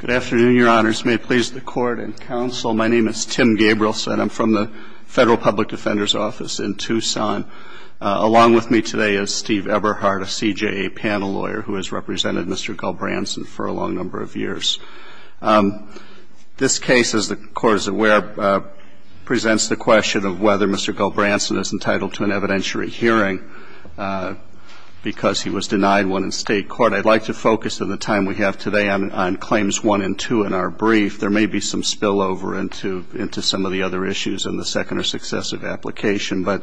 Good afternoon, Your Honors. May it please the Court and Counsel, my name is Tim Gabrielson. I'm from the Federal Public Defender's Office in Tucson. Along with me today is Steve Eberhardt, a CJA panel lawyer who has represented Mr. Gulbrandson for a long number of years. This case, as the Court is aware, presents the question of whether Mr. Gulbrandson is entitled to an evidentiary hearing because he was denied one in state court. I'd like to focus in the time we have today on claims 1 and 2 in our brief. There may be some spillover into some of the other issues in the second or successive application, but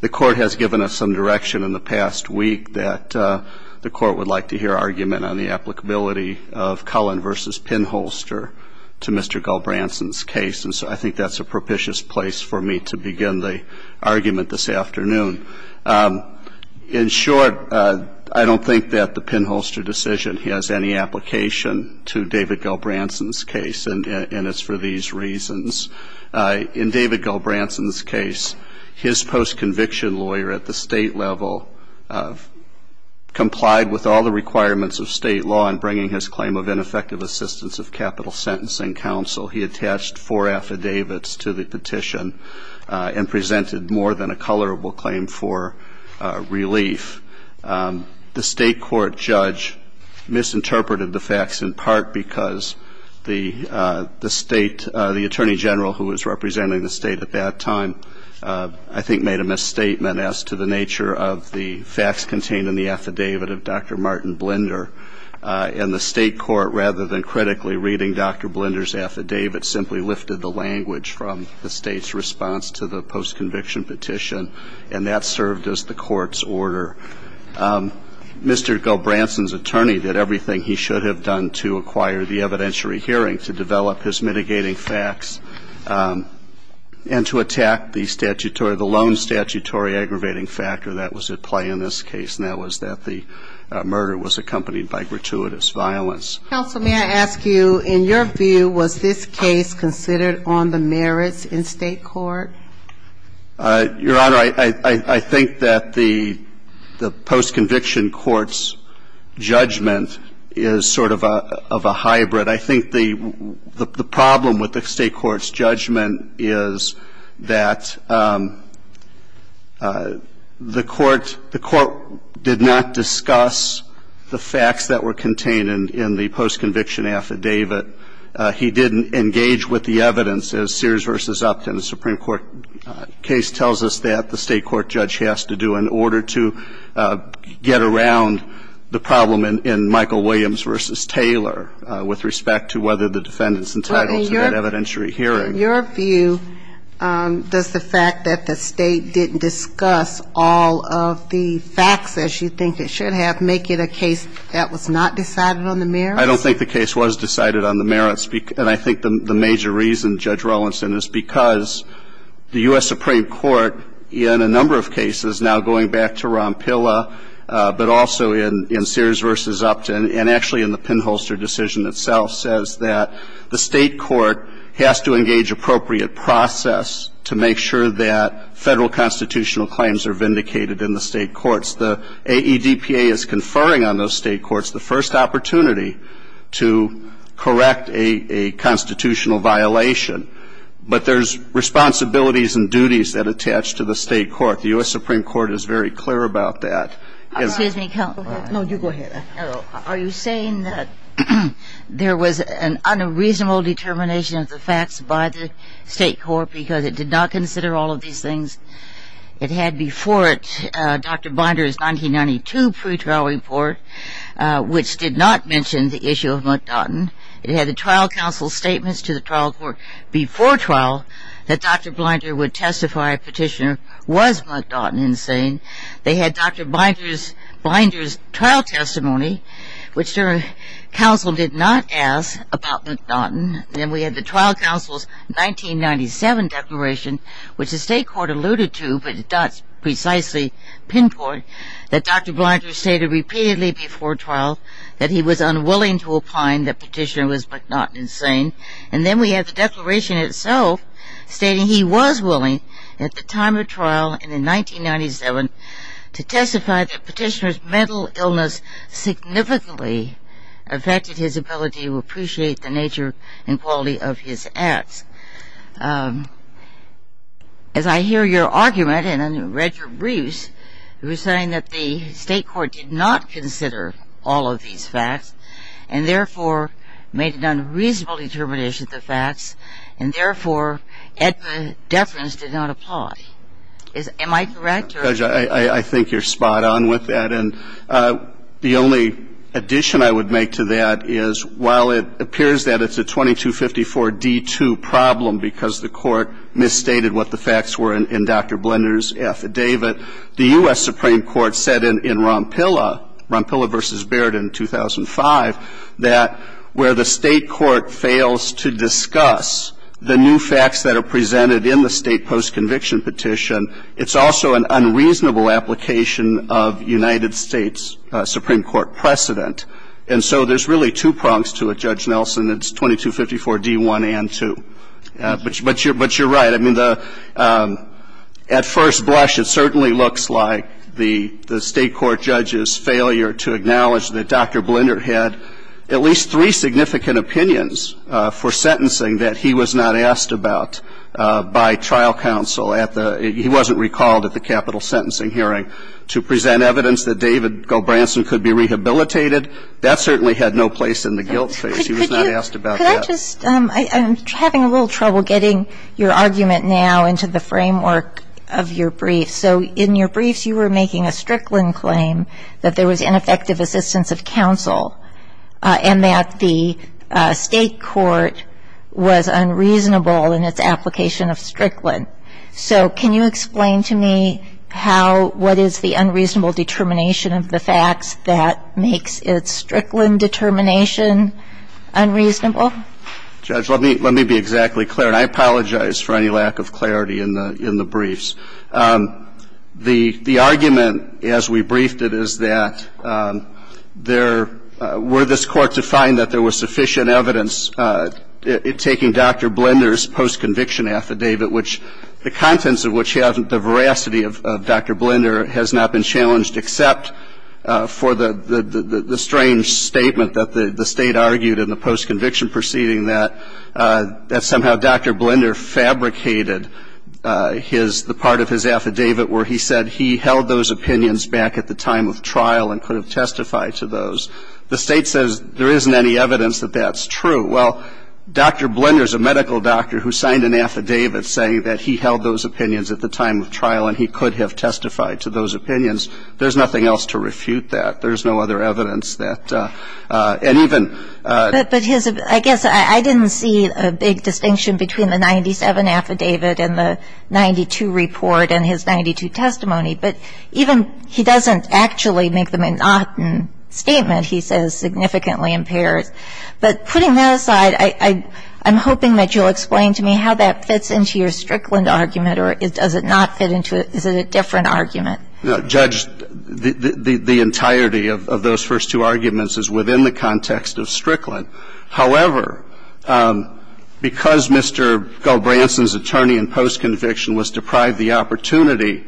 the Court has given us some direction in the past week that the Court would like to hear argument on the applicability of Cullen v. Pinholster to Mr. Gulbrandson's case, and so I think that's a propitious place for me to begin the argument this morning. In short, I don't think that the Pinholster decision has any application to David Gulbrandson's case, and it's for these reasons. In David Gulbrandson's case, his post-conviction lawyer at the state level complied with all the requirements of state law in bringing his claim of ineffective assistance of capital sentencing counsel. He attached four affidavits to the relief. The state court judge misinterpreted the facts in part because the state, the attorney general who was representing the state at that time, I think made a misstatement as to the nature of the facts contained in the affidavit of Dr. Martin Blinder, and the state court, rather than critically reading Dr. Blinder's affidavit, simply lifted the language from the state's response to the court's order. Mr. Gulbrandson's attorney did everything he should have done to acquire the evidentiary hearing, to develop his mitigating facts, and to attack the statutory, the lone statutory aggravating factor that was at play in this case, and that was that the murder was accompanied by gratuitous violence. Counsel, may I ask you, in your view, was this case considered on the merits in state court? Your Honor, I think that the post-conviction court's judgment is sort of a hybrid. I think the problem with the state court's judgment is that the court, the court did not discuss the facts that were contained in the post-conviction affidavit. He didn't engage with the evidence, as Sears v. Upton, the Supreme Court case, tells us that the state court judge has to do in order to get around the problem in Michael Williams v. Taylor, with respect to whether the defendant's entitled to that evidentiary hearing. Well, in your view, does the fact that the state didn't discuss all of the facts as you think it should have make it a case that was not decided on the merits? I don't think the case was decided on the merits, and I think the major reason, Judge Rowlinson, is because the U.S. Supreme Court, in a number of cases, now going back to Rompilla, but also in Sears v. Upton, and actually in the pinholster decision itself, says that the state court has to engage appropriate process to make sure that Federal constitutional claims are vindicated in the state courts. The AEDPA is conferring on those state courts the first opportunity to correct a constitutional violation, but there's responsibilities and duties that attach to the state court. The U.S. Supreme Court is very clear about that. Excuse me, counsel. No, you go ahead. Are you saying that there was an unreasonable determination of the facts by the state court because it did not consider all of these things? It had before it Dr. Binder's 1992 pretrial report, which did not mention the issue of McDaughton. It had the trial counsel's statements to the trial court before trial that Dr. Binder would testify a petitioner was McDaughton insane. They had Dr. Binder's trial testimony, which the counsel did not ask about McDaughton. Then we had the trial counsel's 1997 declaration, which the state court alluded to, but it does precisely pinpoint that Dr. Binder stated repeatedly before trial that he was unwilling to opine that petitioner was McDaughton insane. And then we had the declaration itself stating he was willing at the time of trial and in 1997 to testify that petitioner's mental illness significantly affected his ability to appreciate the nature and quality of his acts. As I hear your argument, and I read your briefs, you were saying that the state court did not consider all of these facts and, therefore, made an unreasonable determination of the facts and, therefore, EDMA deference did not apply. Am I correct? Judge, I think you're spot on with that. And the only addition I would make to that is, while it appears that it's a 2254D2 problem because the court misstated what the facts were in Dr. Binder's affidavit, the U.S. Supreme Court said in Rompilla, Rompilla v. Baird in 2005, that where the state court fails to discuss the new facts that are presented in the state post-conviction petition, it's also an unreasonable application of United States Supreme Court precedent. And so there's really two prongs to it, Judge Nelson. It's 2254D1 and 2. But you're right. I mean, at first blush, it certainly looks like the state court judge's failure to acknowledge that Dr. Binder had at least three significant opinions for sentencing that he was not asked about by trial counsel at the — he wasn't recalled at the capital sentencing hearing to present evidence that David Gobranson could be rehabilitated, that certainly had no place in the guilt phase. He was not asked about that. Could I just — I'm having a little trouble getting your argument now into the framework of your brief. So in your briefs, you were making a Strickland claim that there was ineffective assistance of counsel and that the state court was unreasonable in its application of Strickland. So can you explain to me how — what is the unreasonable determination of the facts that makes its Strickland determination unreasonable? Judge, let me be exactly clear. And I apologize for any lack of clarity in the briefs. The argument, as we briefed it, is that there — were this Court to find that there was sufficient evidence taking Dr. Binder's post-conviction affidavit, which — the contents of which haven't — the veracity of Dr. Binder has not been challenged except for the strange statement that the state argued in the post-conviction proceeding that somehow Dr. Binder fabricated his — the part of his affidavit where he said he held those opinions back at the time of trial and could have testified to those. The state says there isn't any evidence that that's true. Well, Dr. Binder is a medical doctor who signed an affidavit saying that he held those opinions at the time of trial and he could have testified to those opinions. There's nothing else to refute that. There's no other evidence that — and even — But his — I guess I didn't see a big distinction between the 97 affidavit and the 92 report and his 92 testimony. But even — he doesn't actually make the monotonous statement. He says significantly impaired. But putting that aside, I'm hoping that you'll explain to me how that fits into your Strickland argument or does it not fit into — is it a different argument? Judge, the entirety of those first two arguments is within the context of Strickland. However, because Mr. Gulbranson's attorney in post-conviction was deprived the opportunity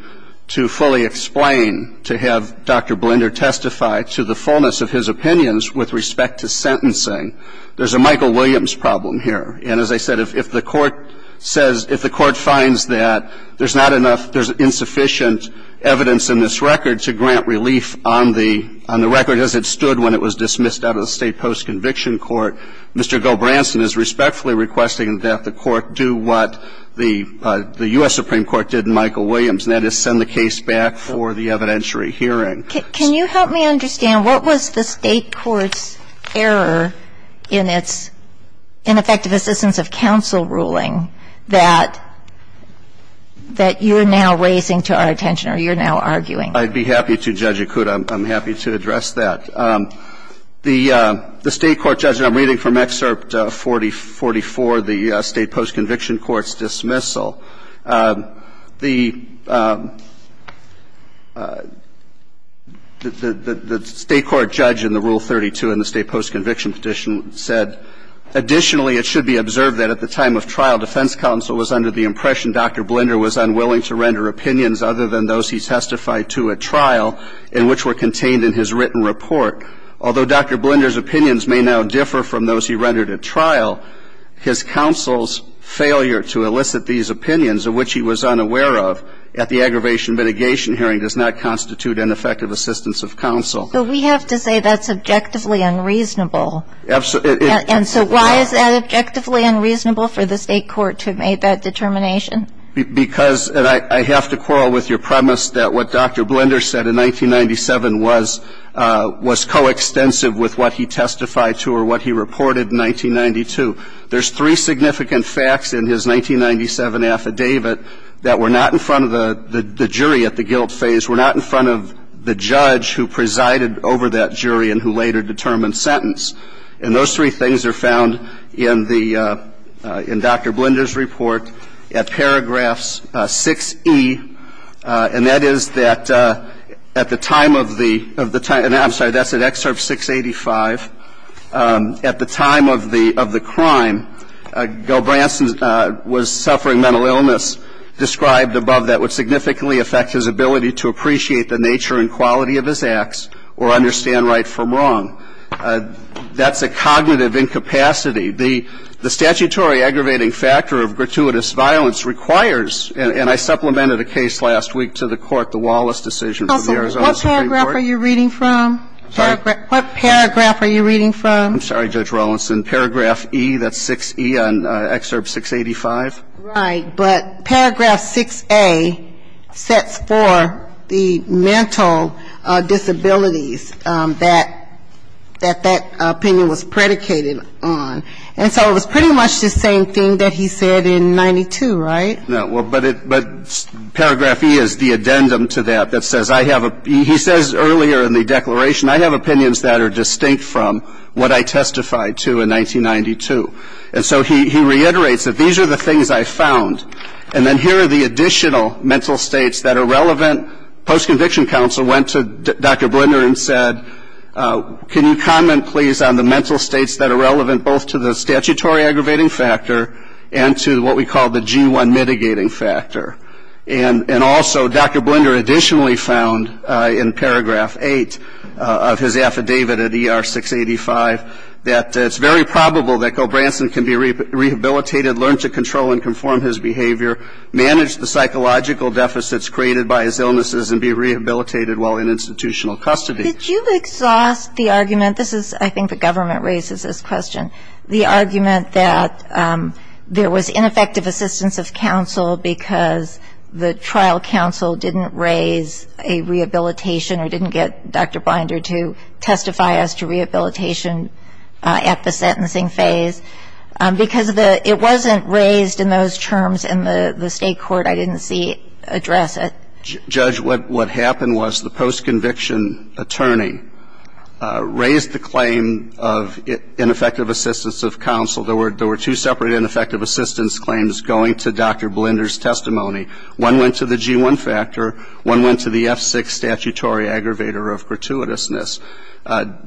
to fully explain, to have Dr. Binder testify to the fullness of his opinions with respect to sentencing, there's a Michael Williams problem here. And as I said, if the Court says — if the Court finds that there's not enough — there's not enough evidence in this record to grant relief on the — on the record as it stood when it was dismissed out of the State post-conviction court, Mr. Gulbranson is respectfully requesting that the Court do what the U.S. Supreme Court did in Michael Williams, and that is send the case back for the evidentiary hearing. Can you help me understand, what was the State court's error in its ineffective assistance of counsel ruling that — that you're now raising to our attention or you're now arguing? I'd be happy to, Judge Akuta. I'm happy to address that. The State court judge, and I'm reading from Excerpt 4044, the State post-conviction court's dismissal, the — the State court judge in the Rule 32 in the State post-conviction petition said, Additionally, it should be observed that at the time of trial, defense counsel was under the impression Dr. Binder was unwilling to render opinions other than those he testified to at trial and which were contained in his written report. Although Dr. Binder's opinions may now differ from those he rendered at trial, his counsel's failure to elicit these opinions of which he was unaware of at the aggravation mitigation hearing does not constitute ineffective assistance of counsel. But we have to say that's objectively unreasonable. Absolutely. And so why is that objectively unreasonable for the State court to have made that determination? Because — and I have to quarrel with your premise that what Dr. Binder said in 1997 was — was coextensive with what he testified to or what he reported in 1992. There's three significant facts in his 1997 affidavit that were not in front of the jury at the guilt phase, were not in front of the judge who presided over that jury and who later determined sentence. And those three things are found in the — in Dr. Binder's report at paragraphs 6E, and that is that at the time of the — and I'm sorry, that's at excerpt 685. At the time of the — of the crime, Gil Branson was suffering mental illness described above that would significantly affect his ability to appreciate the nature and quality of his acts or understand right from wrong. That's a cognitive incapacity. The statutory aggravating factor of gratuitous violence requires — and I supplemented a case last week to the court, the Wallace decision from the Arizona Supreme Court. Counsel, what paragraph are you reading from? I'm sorry? What paragraph are you reading from? I'm sorry, Judge Rawlinson. Paragraph E, that's 6E on excerpt 685. Right. But paragraph 6A sets for the mental disabilities that — that that opinion was predicated on. And so it was pretty much the same thing that he said in 92, right? No. But paragraph E is the addendum to that that says I have — he says earlier in the declaration, I have opinions that are distinct from what I testified to in 1992. And so he reiterates that these are the things I found. And then here are the additional mental states that are relevant. Post-conviction counsel went to Dr. Binder and said, can you comment, please, on the mental states that are relevant both to the statutory aggravating factor and to what we call the G1 mitigating factor? And also, Dr. Binder additionally found in paragraph 8 of his affidavit at ER 685 that it's very probable that Gobranson can be rehabilitated, learn to control and conform his behavior, manage the psychological deficits created by his illnesses and be rehabilitated while in institutional custody. Did you exhaust the argument? This is, I think, the government raises this question, the argument that there was ineffective assistance of counsel because the trial counsel didn't raise a rehabilitation or didn't get Dr. Binder to testify as to rehabilitation at the sentencing phase because it wasn't raised in those terms in the State court. I didn't see it address it. Judge, what happened was the post-conviction attorney raised the claim of ineffective assistance of counsel. There were two separate ineffective assistance claims going to Dr. Binder's testimony. One went to the G1 factor. One went to the F6 statutory aggravator of gratuitousness.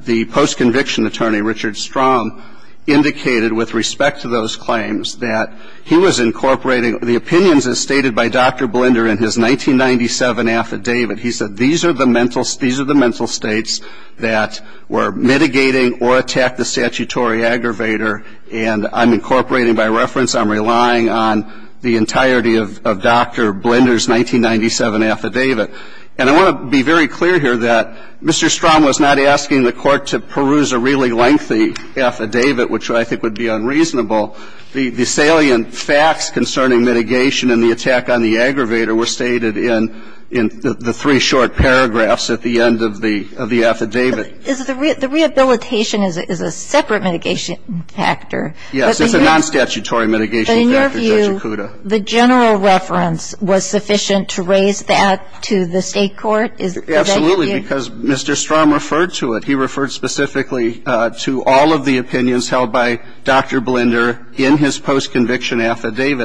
The post-conviction attorney, Richard Strom, indicated with respect to those claims that he was incorporating the opinions as stated by Dr. Binder in his 1997 affidavit. He said these are the mental states that were mitigating or attacked the statutory aggravator, and I'm incorporating by reference, I'm relying on the entirety of Dr. Binder's 1997 affidavit. And I want to be very clear here that Mr. Strom was not asking the Court to peruse a really lengthy affidavit, which I think would be unreasonable. The salient facts concerning mitigation and the attack on the aggravator were stated in the three short paragraphs at the end of the affidavit. The rehabilitation is a separate mitigation factor. Yes. It's a non-statutory mitigation factor, Judge Acuda. But in your view, the general reference was sufficient to raise that to the State court? Is that your view? Absolutely, because Mr. Strom referred to it.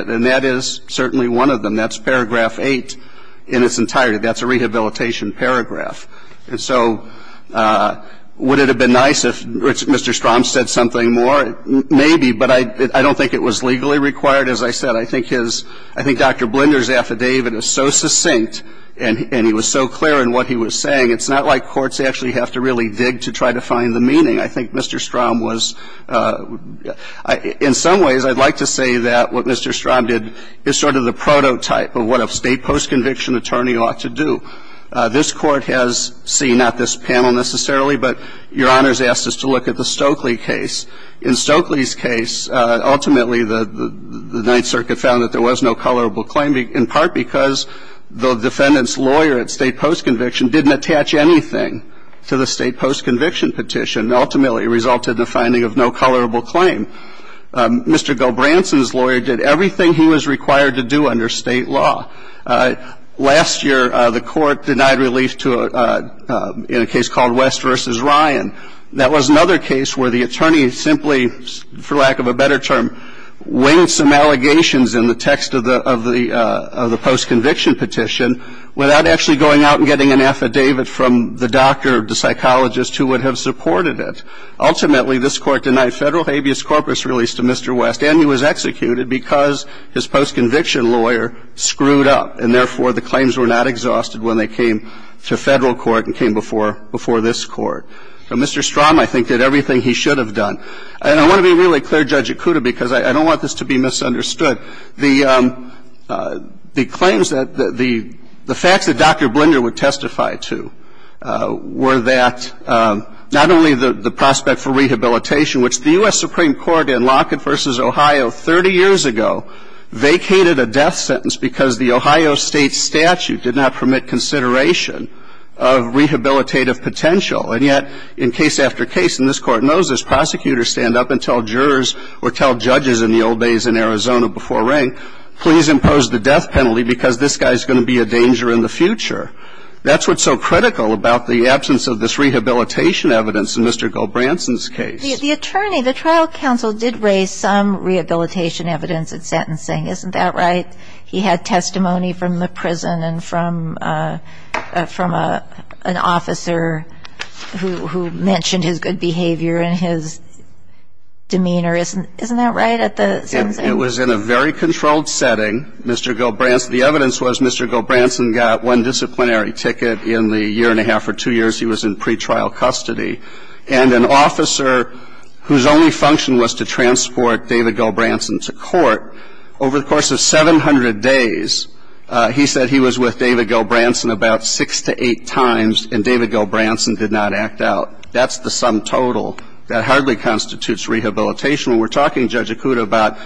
And that is certainly one of them. That's paragraph 8 in its entirety. That's a rehabilitation paragraph. And so would it have been nice if Mr. Strom said something more? Maybe, but I don't think it was legally required. As I said, I think his – I think Dr. Binder's affidavit is so succinct and he was so clear in what he was saying, it's not like courts actually have to really dig to try to find the meaning. I think Mr. Strom was – in some ways, I'd like to say that what Mr. Strom did is sort of the prototype of what a State post-conviction attorney ought to do. This Court has seen – not this panel necessarily, but Your Honors asked us to look at the Stokely case. In Stokely's case, ultimately, the Ninth Circuit found that there was no colorable claim, in part because the defendant's lawyer at State post-conviction didn't attach anything to the State post-conviction petition. Ultimately, it resulted in the finding of no colorable claim. Mr. Gobranson's lawyer did everything he was required to do under State law. Last year, the Court denied relief to – in a case called West v. Ryan. That was another case where the attorney simply, for lack of a better term, winged some allegations in the text of the post-conviction petition without actually going out and getting an affidavit from the doctor or the psychologist who would have supported it. Ultimately, this Court denied Federal habeas corpus relief to Mr. West, and he was executed because his post-conviction lawyer screwed up, and therefore, the claims were not exhausted when they came to Federal court and came before this Court. Mr. Strom, I think, did everything he should have done. And I want to be really clear, Judge Akuta, because I don't want this to be misunderstood. The claims that – the facts that Dr. Blinder would testify to were that not only the prospect for rehabilitation, which the U.S. Supreme Court in Lockett v. Ohio 30 years ago vacated a death sentence because the Ohio State statute did not permit consideration of rehabilitative potential. And yet, in case after case, and this Court knows this, prosecutors stand up and tell judges in the old days in Arizona before rank, please impose the death penalty because this guy is going to be a danger in the future. That's what's so critical about the absence of this rehabilitation evidence in Mr. Goldbranson's case. The attorney, the trial counsel, did raise some rehabilitation evidence at sentencing. Isn't that right? He had testimony from the prison and from an officer who mentioned his good behavior and his demeanor. Isn't that right at the sentencing? It was in a very controlled setting. Mr. Goldbranson – the evidence was Mr. Goldbranson got one disciplinary ticket in the year and a half or two years he was in pretrial custody. And an officer whose only function was to transport David Goldbranson to court, over the course of 700 days, he said he was with David Goldbranson about six to eight times, and David Goldbranson did not act out. That's the sum total. That hardly constitutes rehabilitation. We're talking, Judge Akuta, about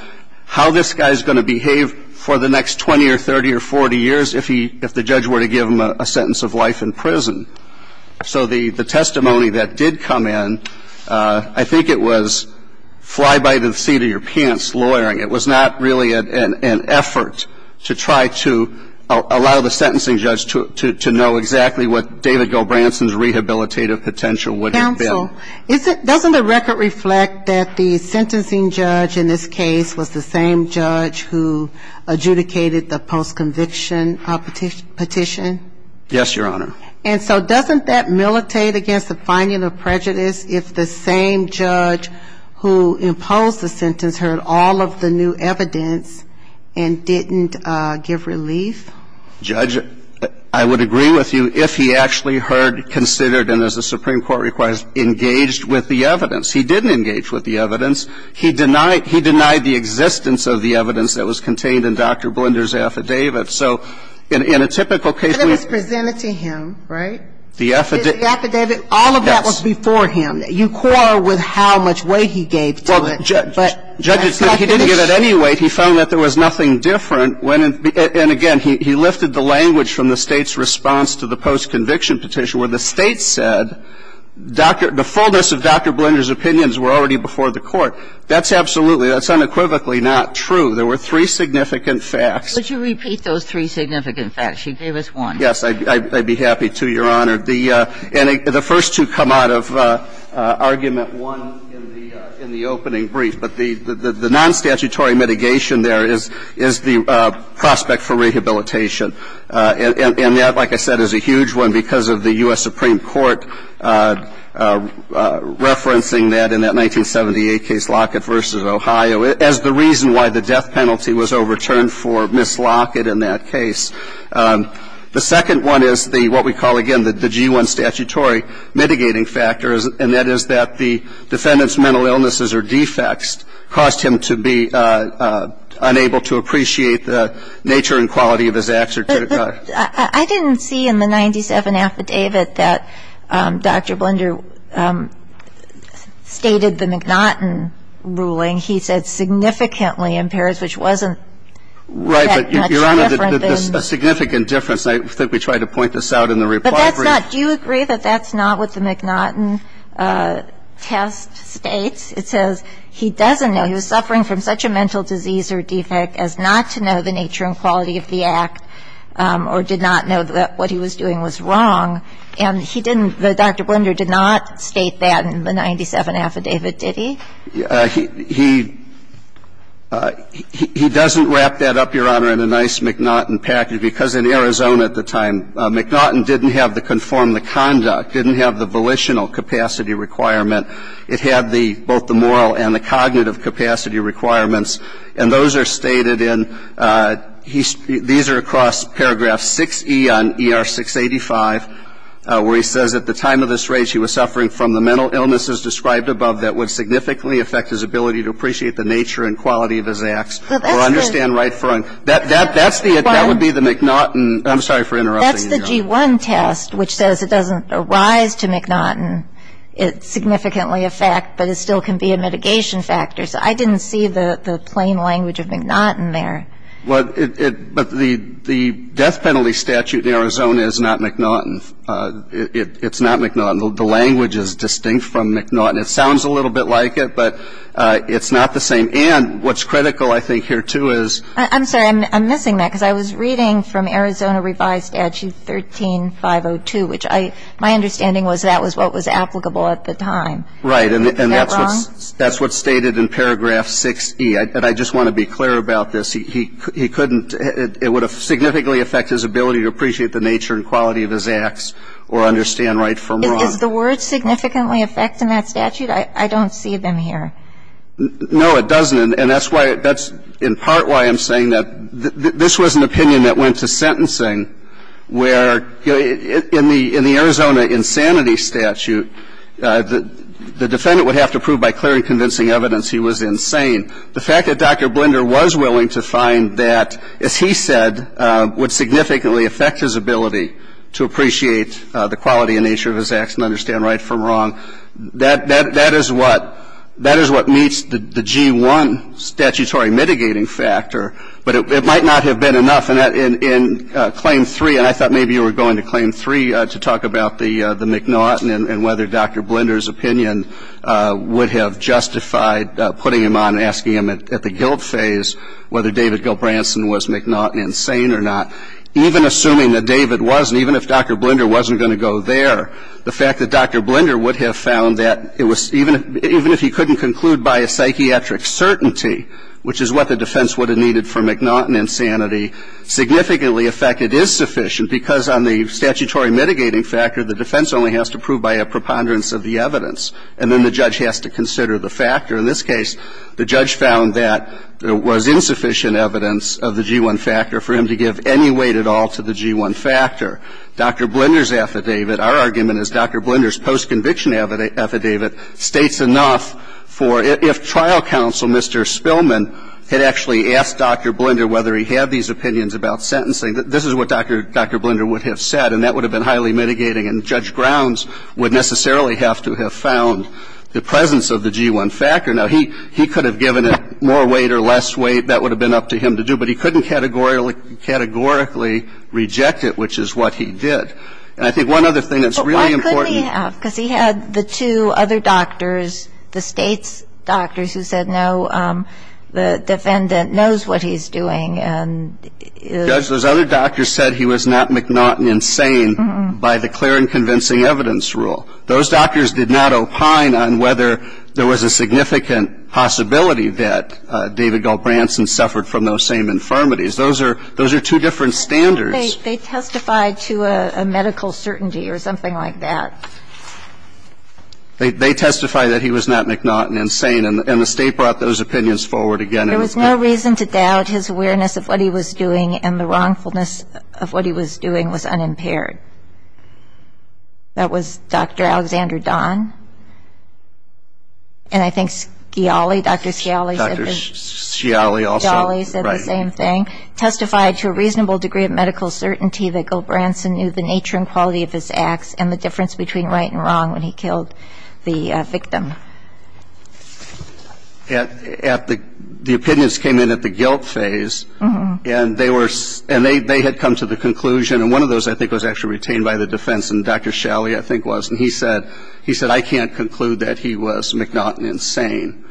how this guy is going to behave for the next 20 or 30 or 40 years if he – if the judge were to give him a sentence of life in prison. So the testimony that did come in, I think it was fly by the seat of your pants lawyering. It was not really an effort to try to allow the sentencing judge to know exactly what David Goldbranson's rehabilitative potential would have been. Judge, does the record reflect that the sentencing judge in this case was the same judge who adjudicated the post-conviction petition? Yes, Your Honor. And so doesn't that militate against the finding of prejudice if the same judge who imposed the sentence heard all of the new evidence and didn't give relief? Judge, I would agree with you. that was presented to him in the case. If he actually heard, considered, and as the Supreme Court requires, engaged with the evidence. He didn't engage with the evidence. He denied the existence of the evidence that was contained in Dr. Blender's affidavit. So in a typical case we – But it was presented to him, right? The affidavit, all of that was before him. Yes. You quarrel with how much weight he gave to it, but that's not the issue. Judges said he didn't give it any weight. He found that there was nothing different. And again, he lifted the language from the State's response to the post-conviction petition where the State said the fullness of Dr. Blender's opinions were already before the Court. That's absolutely, that's unequivocally not true. There were three significant facts. Would you repeat those three significant facts? You gave us one. Yes, I'd be happy to, Your Honor. The first two come out of argument one in the opening brief. But the non-statutory mitigation there is the prospect for rehabilitation. And that, like I said, is a huge one because of the U.S. Supreme Court referencing that in that 1978 case, Lockett v. Ohio, as the reason why the death penalty was overturned for Ms. Lockett in that case. The second one is what we call, again, the G-1 statutory mitigating factor, and that is that the defendant's mental illnesses or defects caused him to be unable to appreciate the nature and quality of his executive conduct. But I didn't see in the 97 affidavit that Dr. Blender stated the McNaughton ruling. He said significantly impaired, which wasn't that much different than the state It's a significant difference. I think we tried to point this out in the reply brief. But that's not – do you agree that that's not what the McNaughton test states? It says he doesn't know. He was suffering from such a mental disease or defect as not to know the nature and quality of the act or did not know that what he was doing was wrong. And he didn't – Dr. Blender did not state that in the 97 affidavit, did he? He doesn't wrap that up, Your Honor, in a nice McNaughton package, because in Arizona at the time, McNaughton didn't have to conform the conduct, didn't have the volitional capacity requirement. It had both the moral and the cognitive capacity requirements. And those are stated in – these are across paragraph 6E on ER 685, where he says, at the time of this rage, he was suffering from the mental illnesses described above that would significantly affect his ability to appreciate the nature and quality of his acts or understand right from – that's the – that would be the McNaughton – I'm sorry for interrupting you, Your Honor. That's the G1 test, which says it doesn't arise to McNaughton. It's significantly a fact, but it still can be a mitigation factor. So I didn't see the plain language of McNaughton there. Well, it – but the death penalty statute in Arizona is not McNaughton. It's not McNaughton. The language is distinct from McNaughton. It sounds a little bit like it, but it's not the same. And what's critical, I think, here, too, is – I'm sorry. I'm missing that, because I was reading from Arizona Revised Statute 13502, which I – my understanding was that was what was applicable at the time. Right. And that's what's – Is that wrong? That's what's stated in paragraph 6E. And I just want to be clear about this. He couldn't – it would have significantly affected his ability to appreciate the nature and quality of his acts or understand right from wrong. Is the word significantly affecting that statute? I don't see them here. No, it doesn't. And that's why – that's in part why I'm saying that this was an opinion that went to sentencing, where in the Arizona insanity statute, the defendant would have to prove by clear and convincing evidence he was insane. The fact that Dr. Blinder was willing to find that, as he said, would significantly affect his ability to appreciate the quality and nature of his acts and understand right from wrong, that is what meets the G-1 statutory mitigating factor. But it might not have been enough. And in Claim 3 – and I thought maybe you were going to Claim 3 to talk about the McNaughton and whether Dr. Blinder's opinion would have justified putting him on and asking him at the guilt phase whether David Gilbranson was McNaughton insane or not. Even assuming that David wasn't, even if Dr. Blinder wasn't going to go there, the fact that Dr. Blinder would have found that it was – even if he couldn't conclude by a psychiatric certainty, which is what the defense would have needed for McNaughton insanity, significantly affected his sufficient, because on the statutory mitigating factor, the defense only has to prove by a preponderance of the evidence, and then the judge has to consider the factor. In this case, the judge found that there was insufficient evidence of the G-1 factor for him to give any weight at all to the G-1 factor. Dr. Blinder's affidavit, our argument is Dr. Blinder's postconviction affidavit states enough for – if trial counsel, Mr. Spillman, had actually asked Dr. Blinder whether he had these opinions about sentencing, this is what Dr. Blinder would have said, and that would have been highly mitigating, and Judge Grounds would necessarily have to have found the presence of the G-1 factor. Now, he could have given it more weight or less weight. That would have been up to him to do. But he couldn't categorically reject it, which is what he did. And I think one other thing that's really important – But why couldn't he have? Because he had the two other doctors, the State's doctors, who said, no, the defendant knows what he's doing, and – Judge, those other doctors said he was not McNaughton insane by the clear and convincing evidence rule. Those doctors did not opine on whether there was a significant possibility that David Goldbranson suffered from those same infirmities. Those are – those are two different standards. They testified to a medical certainty or something like that. They testified that he was not McNaughton insane, and the State brought those opinions forward again and again. There was no reason to doubt his awareness of what he was doing and the wrongfulness of what he was doing was unimpaired. That was Dr. Alexander Don. And I think Scioli, Dr. Scioli – Dr. Scioli also – Scioli said the same thing, testified to a reasonable degree of medical certainty that Goldbranson knew the nature and quality of his acts and the difference between right and wrong when he killed the victim. At the – the opinions came in at the guilt phase, and they were – and they had come to the conclusion – and one of those I think was actually retained by the defense, and Dr. Scioli I think was, and he said – he said, I can't conclude that he was McNaughton insane.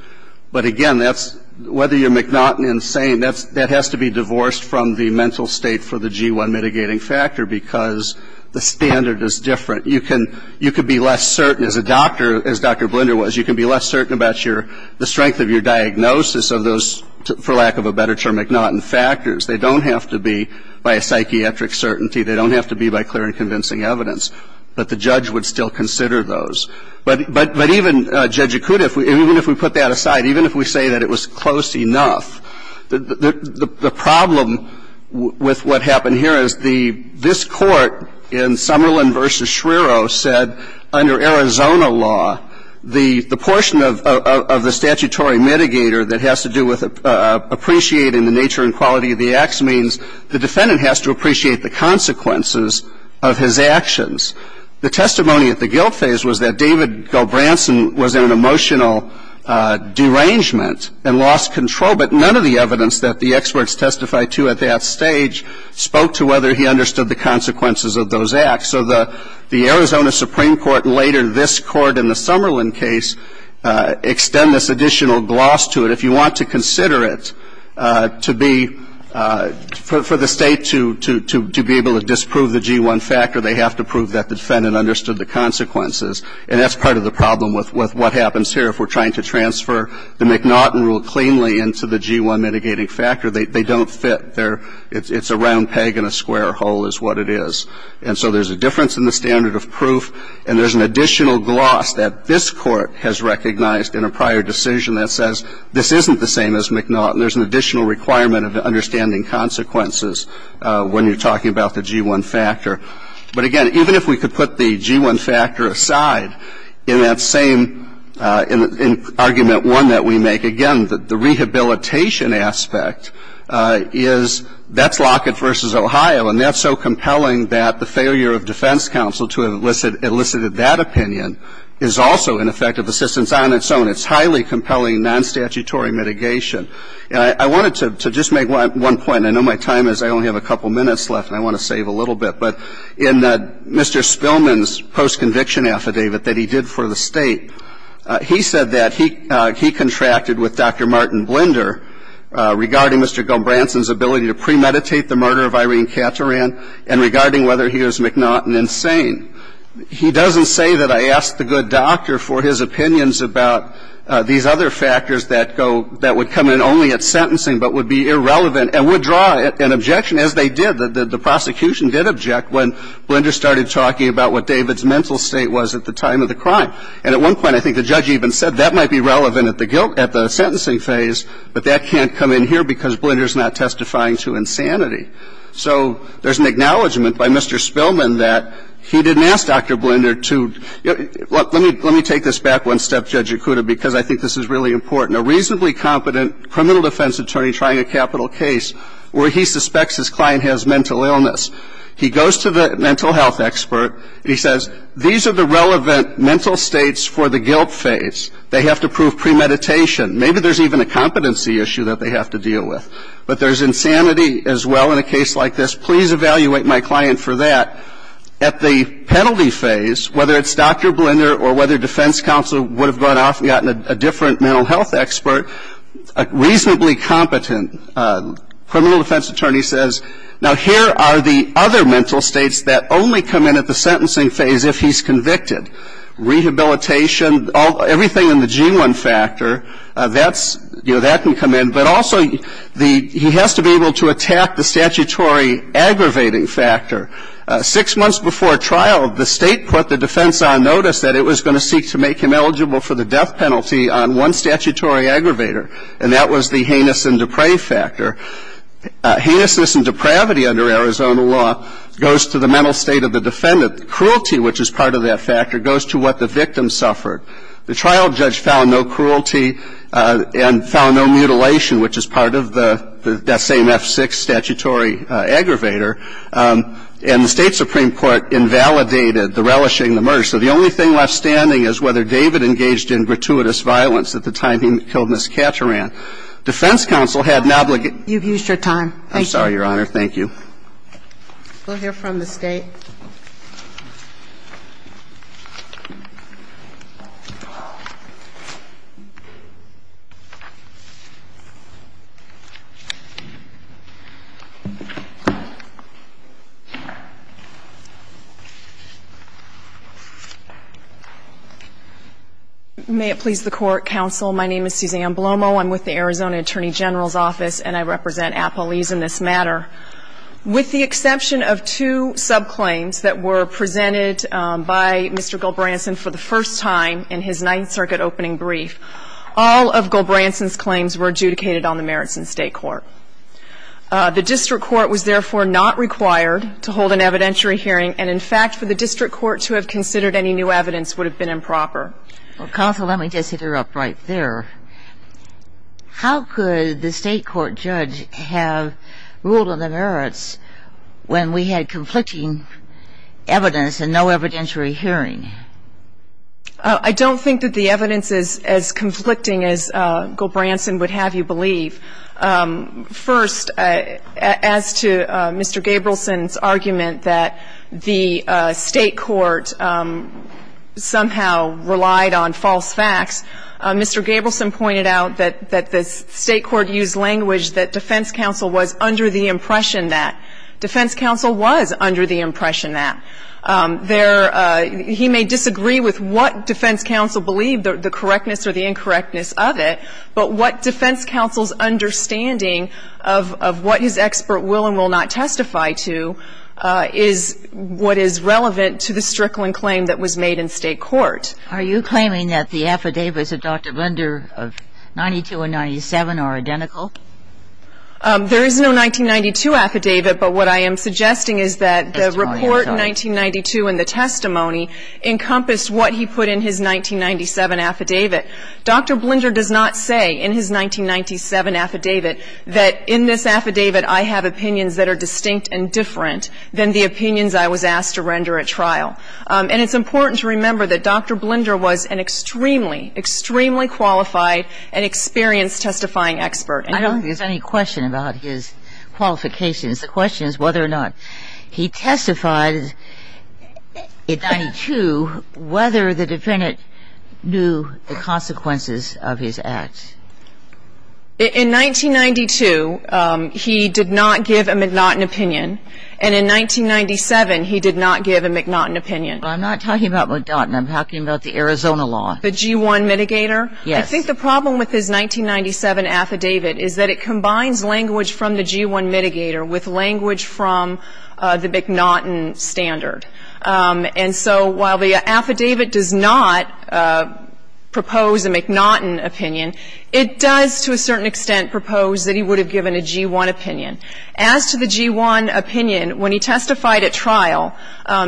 But again, that's – whether you're McNaughton insane, that's – that has to be divorced from the mental state for the G1 mitigating factor because the standard is different. You can – you can be less certain as a doctor, as Dr. Blinder was, you can be less certain about your – the strength of your diagnosis of those, for lack of a better term, McNaughton factors. They don't have to be by a psychiatric certainty. They don't have to be by clear and convincing evidence. But the judge would still consider those. But – but even Judge Acuda, if we – even if we put that aside, even if we say that it was close enough, the – the problem with what happened here is the – this Court in Summerlin v. Schreiro said under Arizona law, the – the portion of – of the statutory mitigator that has to do with appreciating the nature and quality of the acts means the defendant has to appreciate the consequences of his actions. The testimony at the guilt phase was that David Gilbranson was in an emotional derangement and lost control, but none of the evidence that the experts testified to at that stage spoke to whether he understood the consequences of those acts. So the – the Arizona Supreme Court and later this Court in the Summerlin case extend this additional gloss to it. If you want to consider it to be – for the State to – to be able to disprove the G-1 factor, they have to prove that the defendant understood the consequences. And that's part of the problem with – with what happens here. If we're trying to transfer the McNaughton rule cleanly into the G-1 mitigating factor, they – they don't fit. They're – it's a round peg in a square hole is what it is. And so there's a difference in the standard of proof, and there's an additional gloss that this Court has recognized in a prior decision that says this isn't the same as McNaughton. There's an additional requirement of understanding consequences when you're talking about the G-1 factor. But again, even if we could put the G-1 factor aside, in that same – in argument one that we make, again, the rehabilitation aspect is – that's Lockett v. Ohio, and that's so compelling that the failure of defense counsel to have elicited that opinion is also an effect of assistance on its own. It's highly compelling non-statutory mitigation. And I wanted to – to just make one point. I know my time is – I only have a couple minutes left, and I want to save a little bit. But in Mr. Spillman's post-conviction affidavit that he did for the State, he said that he – he contracted with Dr. Martin Blinder regarding Mr. Gilbranson's ability to premeditate the murder of Irene Caturan and regarding whether he was McNaughton-insane. He doesn't say that I asked the good doctor for his opinions about these other factors that go – that would come in only at sentencing but would be irrelevant and would draw an objection, as they did. The prosecution did object when Blinder started talking about what David's mental state was at the time of the crime. And at one point, I think the judge even said that might be relevant at the guilt – at the sentencing phase, but that can't come in here because Blinder's not testifying to insanity. So there's an acknowledgment by Mr. Spillman that he didn't ask Dr. Blinder to – let me – let me take this back one step, Judge Yakuta, because I think this is really important. A reasonably competent criminal defense attorney trying a capital case where he suspects his client has mental illness, he goes to the mental health expert, and he says, these are the relevant mental states for the guilt phase. They have to prove premeditation. Maybe there's even a competency issue that they have to deal with. But there's insanity as well in a case like this. Please evaluate my client for that. At the penalty phase, whether it's Dr. Blinder or whether defense counsel would have gone off and gotten a different mental health expert, a reasonably competent criminal defense attorney says, now, here are the other mental states that only come in at the sentencing phase if he's convicted. Rehabilitation, everything in the G1 factor, that's – you know, that can come in. But also, the – he has to be able to attack the statutory aggravating factor. Six months before trial, the State put the defense on notice that it was going to seek to make him eligible for the death penalty on one statutory aggravator, and that was the heinous and depraved factor. Heinousness and depravity under Arizona law goes to the mental state of the defendant. Cruelty, which is part of that factor, goes to what the victim suffered. The trial judge found no cruelty and found no mutilation, which is part of the same F6 statutory aggravator. And the State supreme court invalidated the relishing the murder. So the only thing left standing is whether David engaged in gratuitous violence at the time he killed Ms. Cattaran. Defense counsel had an obligate – You've used your time. I'm sorry, Your Honor. Thank you. We'll hear from the State. May it please the Court, counsel. My name is Suzanne Blomo. I'm with the Arizona Attorney General's Office, and I represent Appalese in this matter. With the exception of two subclaims that were presented by Mr. Gilbranson for the first time in his Ninth Circuit opening brief, all of Gilbranson's claims were adjudicated on the merits in State court. The district court was therefore not required to hold an evidentiary hearing, and in fact, for the district court to have considered any new evidence would have been improper. Counsel, let me just hit her up right there. How could the State court judge have ruled on the merits when we had conflicting evidence and no evidentiary hearing? I don't think that the evidence is as conflicting as Gilbranson would have you believe. First, as to Mr. Gabrielson's argument that the State court somehow relied on evidence, I think it's important to note that Mr. Gabrielson pointed out that the State court used language that defense counsel was under the impression that. Defense counsel was under the impression that. There he may disagree with what defense counsel believed, the correctness or the incorrectness of it, but what defense counsel's understanding of what his expert will and will not testify to is what is relevant to the Strickland claim that was made in State court. Are you claiming that the affidavits of Dr. Blinder of 92 and 97 are identical? There is no 1992 affidavit, but what I am suggesting is that the report in 1992 and the testimony encompassed what he put in his 1997 affidavit. Dr. Blinder does not say in his 1997 affidavit that in this affidavit I have opinions that are distinct and different than the opinions I was asked to render at trial. And it's important to remember that Dr. Blinder was an extremely, extremely qualified and experienced testifying expert. I don't think there's any question about his qualifications. The question is whether or not he testified in 92 whether the defendant knew the consequences of his acts. In 1992, he did not give a McNaughton opinion. And in 1997, he did not give a McNaughton opinion. I'm not talking about McNaughton. I'm talking about the Arizona law. The G-1 mitigator? Yes. I think the problem with his 1997 affidavit is that it combines language from the G-1 mitigator with language from the McNaughton standard. And so while the affidavit does not propose a McNaughton opinion, it does to a certain extent propose that he would have given a G-1 opinion. As to the G-1 opinion, when he testified at trial,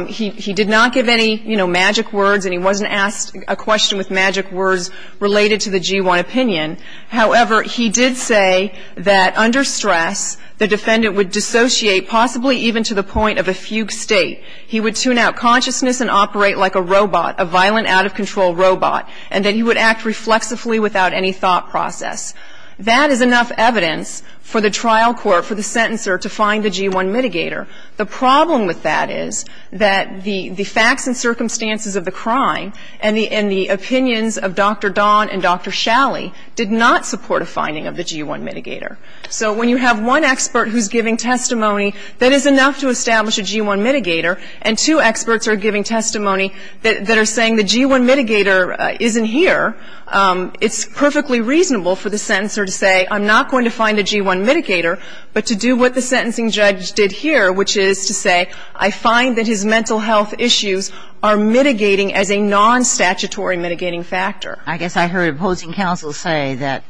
he did not give any, you know, magic words and he wasn't asked a question with magic words related to the G-1 opinion. However, he did say that under stress, the defendant would dissociate possibly even to the point of a fugue state. He would tune out consciousness and operate like a robot, a violent, out-of-control robot, and that he would act reflexively without any thought process. That is enough evidence for the trial court, for the sentencer, to find the G-1 mitigator. The problem with that is that the facts and circumstances of the crime and the opinions of Dr. Dahn and Dr. Shalley did not support a finding of the G-1 mitigator. So when you have one expert who's giving testimony, that is enough to establish a G-1 mitigator, and two experts are giving testimony that are saying the G-1 mitigator isn't here, it's perfectly reasonable for the sentencer to say I'm not going to find a G-1 mitigator, but to do what the sentencing judge did here, which is to say I find that his opposing counsel say that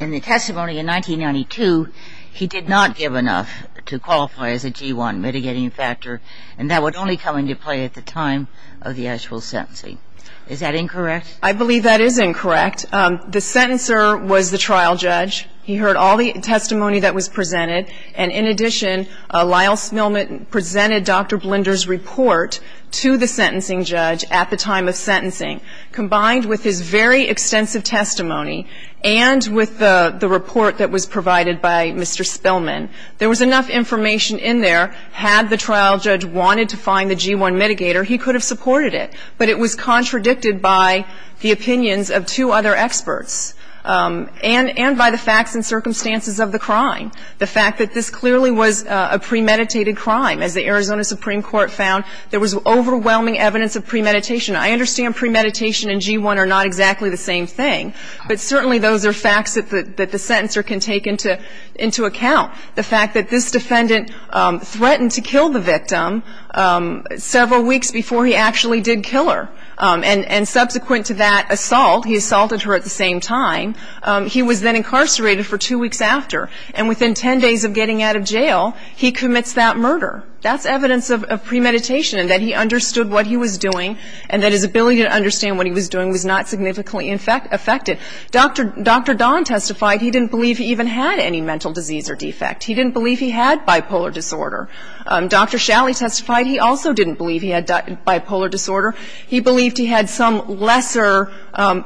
in the testimony in 1992, he did not give enough to qualify as a G-1 mitigating factor, and that would only come into play at the time of the actual sentencing. Is that incorrect? I believe that is incorrect. The sentencer was the trial judge. He heard all the testimony that was presented, and in addition, Lyle Smilman presented Dr. Blinder's report to the sentencing judge at the time of sentencing. Combined with his very extensive testimony and with the report that was provided by Mr. Smilman, there was enough information in there. Had the trial judge wanted to find the G-1 mitigator, he could have supported it, but it was contradicted by the opinions of two other experts and by the facts and circumstances of the crime, the fact that this clearly was a premeditated crime. As the Arizona Supreme Court found, there was overwhelming evidence of premeditation. I understand premeditation and G-1 are not exactly the same thing, but certainly those are facts that the sentencer can take into account. The fact that this defendant threatened to kill the victim several weeks before he actually did kill her, and subsequent to that assault, he assaulted her at the same time. He was then incarcerated for two weeks after. And within 10 days of getting out of jail, he commits that murder. That's evidence of premeditation and that he understood what he was doing and that his ability to understand what he was doing was not significantly affected. Dr. Don testified he didn't believe he even had any mental disease or defect. He didn't believe he had bipolar disorder. Dr. Shalley testified he also didn't believe he had bipolar disorder. He believed he had some lesser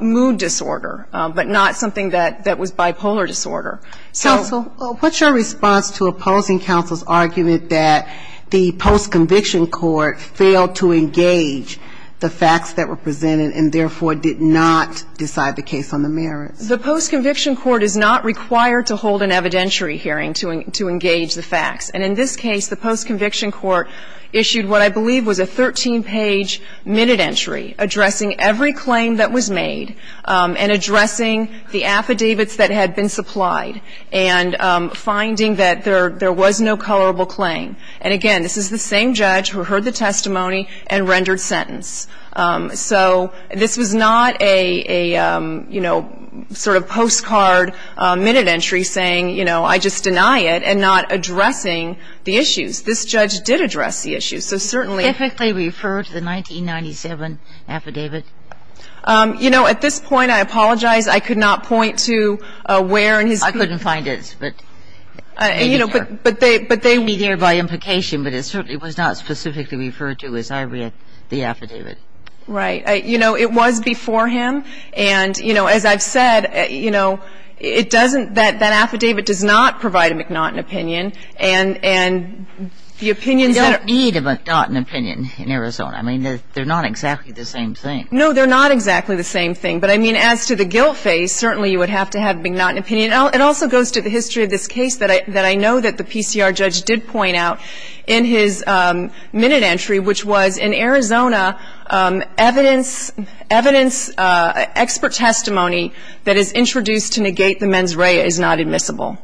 mood disorder, but not something that was bipolar disorder. Counsel, what's your response to opposing counsel's argument that the post-conviction court failed to engage the facts that were presented and, therefore, did not decide the case on the merits? The post-conviction court is not required to hold an evidentiary hearing to engage the facts. And in this case, the post-conviction court issued what I believe was a 13-page minute entry addressing every claim that was made and addressing the affidavits that had been supplied and finding that there was no colorable claim. And, again, this is the same judge who heard the testimony and rendered sentence. So this was not a, you know, sort of postcard minute entry saying, you know, I just deny it and not addressing the issues. This judge did address the issues. So certainly the 1997 affidavit. You know, at this point, I apologize. I could not point to where in his. I couldn't find it. But, you know, but they. It would be there by implication, but it certainly was not specifically referred to as I read the affidavit. Right. You know, it was before him. And, you know, as I've said, you know, it doesn't that that affidavit does not provide a McNaughton opinion. And the opinions that are. There's no need of a McNaughton opinion in Arizona. I mean, they're not exactly the same thing. No, they're not exactly the same thing. But, I mean, as to the guilt phase, certainly you would have to have a McNaughton opinion. It also goes to the history of this case that I know that the PCR judge did point out in his minute entry, which was in Arizona, evidence, expert testimony that is introduced to negate the mens rea is not admissible.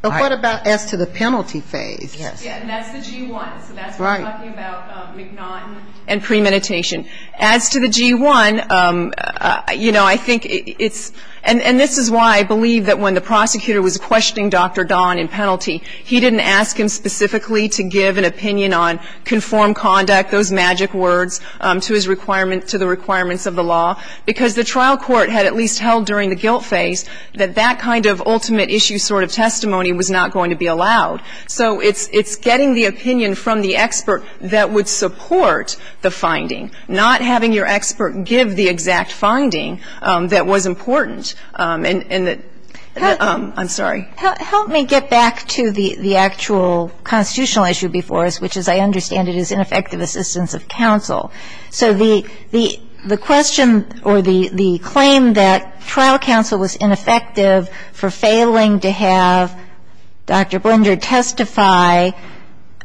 But what about as to the penalty phase? Yes. And that's the G1. So that's what we're talking about, McNaughton and premeditation. As to the G1, you know, I think it's. And this is why I believe that when the prosecutor was questioning Dr. Don in penalty, he didn't ask him specifically to give an opinion on conformed conduct, those magic words, to his requirement, to the requirements of the law, because the trial court had at least held during the guilt phase that that kind of ultimate issue sort of testimony was not going to be allowed. So it's getting the opinion from the expert that would support the finding, not having your expert give the exact finding that was important. And I'm sorry. Help me get back to the actual constitutional issue before us, which, as I understand it, is ineffective assistance of counsel. So the question or the claim that trial counsel was ineffective for failing to have Dr. Blinder testify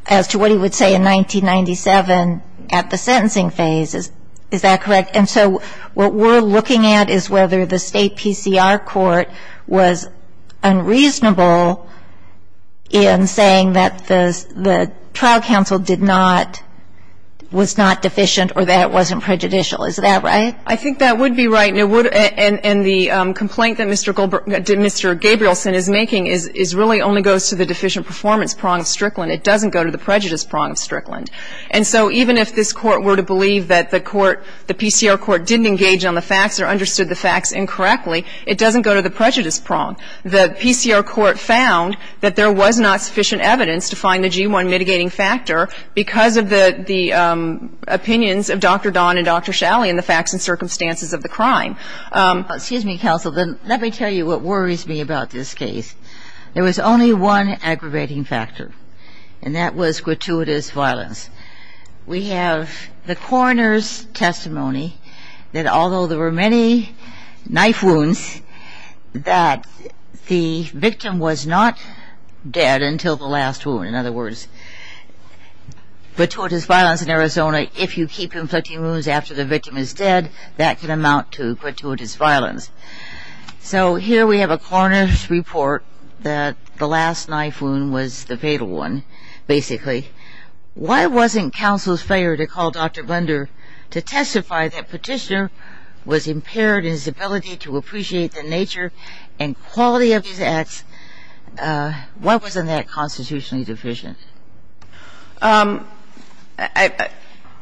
as to what he would say in 1997 at the sentencing phase, is that correct? And so what we're looking at is whether the State PCR court was unreasonable in saying that the trial counsel did not, was not deficient or that it wasn't prejudicial. Is that right? I think that would be right. And the complaint that Mr. Gabrielson is making is really only goes to the deficient performance prong of Strickland. It doesn't go to the prejudice prong of Strickland. And so even if this Court were to believe that the court, the PCR court, didn't engage on the facts or understood the facts incorrectly, it doesn't go to the prejudice prong. The PCR court found that there was not sufficient evidence to find the G1 mitigating factor because of the opinions of Dr. Don and Dr. Shalley in the facts and circumstances of the crime. Excuse me, counsel. Let me tell you what worries me about this case. There was only one aggravating factor, and that was gratuitous violence. We have the coroner's testimony that although there were many knife wounds, that the victim was not dead until the last wound. In other words, gratuitous violence in Arizona, if you keep inflicting wounds after the victim is dead, that can amount to gratuitous violence. So here we have a coroner's report that the last knife wound was the fatal one, basically. Why wasn't counsel's failure to call Dr. Blunder to testify that Petitioner was impaired in his ability to appreciate the nature and quality of his acts, why wasn't that constitutionally deficient?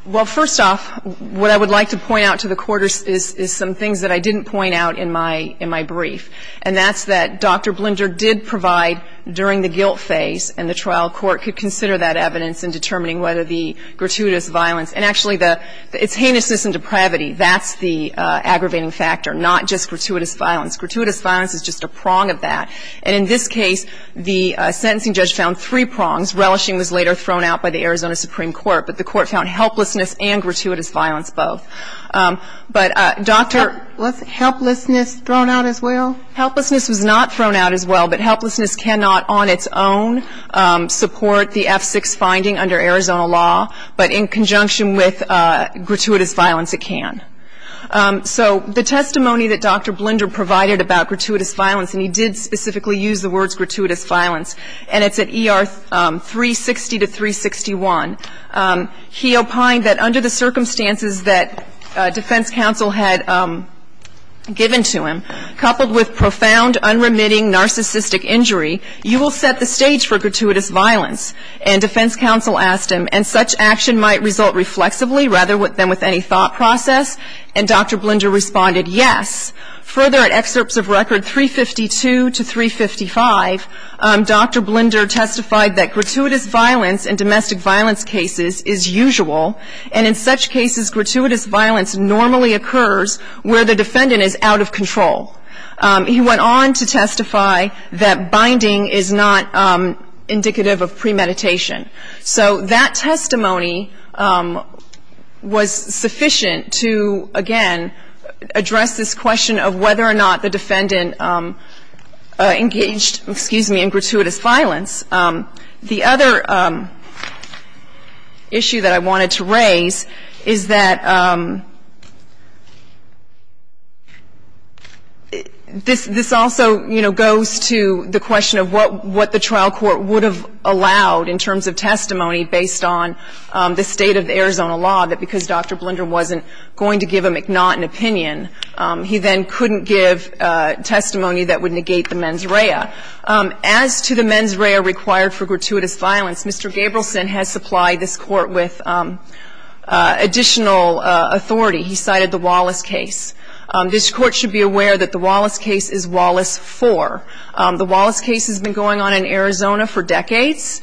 Well, first off, what I would like to point out to the Court is some things that I didn't point out in my brief, and that's that Dr. Blunder did provide during the guilt phase, and the trial court could consider that evidence in determining whether the gratuitous violence, and actually its heinousness and depravity, that's the aggravating factor, not just gratuitous violence. Gratuitous violence is just a prong of that. And in this case, the sentencing judge found three prongs. Relishing was later thrown out by the Arizona Supreme Court, but the Court found helplessness and gratuitous violence both. But Dr. ---- Was helplessness thrown out as well? Helplessness was not thrown out as well, but helplessness cannot on its own support the F6 finding under Arizona law, but in conjunction with gratuitous violence, it can. So the testimony that Dr. Blunder provided about gratuitous violence, and he did specifically use the words gratuitous violence, and it's at ER 360 to 361, he opined that under the circumstances that defense counsel had given to him, coupled with profound, unremitting narcissistic injury, you will set the stage for gratuitous violence. And defense counsel asked him, and such action might result reflexively rather than with any thought process. And Dr. Blunder responded, yes. Further, at excerpts of record 352 to 355, Dr. Blunder testified that gratuitous violence in domestic violence cases is usual, and in such cases, gratuitous violence normally occurs where the defendant is out of control. He went on to testify that binding is not indicative of premeditation. So that testimony was sufficient to, again, address this question of whether or not the defendant engaged, excuse me, in gratuitous violence. The other issue that I wanted to raise is that this also, you know, goes to the question of what the trial court would have allowed in terms of testimony based on the state of the Arizona law, that because Dr. Blunder wasn't going to give a McNaughton opinion, he then couldn't give testimony that would negate the mens rea. As to the mens rea required for gratuitous violence, Mr. Gabrielson has supplied this Court with additional authority. He cited the Wallace case. This Court should be aware that the Wallace case is Wallace 4. The Wallace case has been going on in Arizona for decades.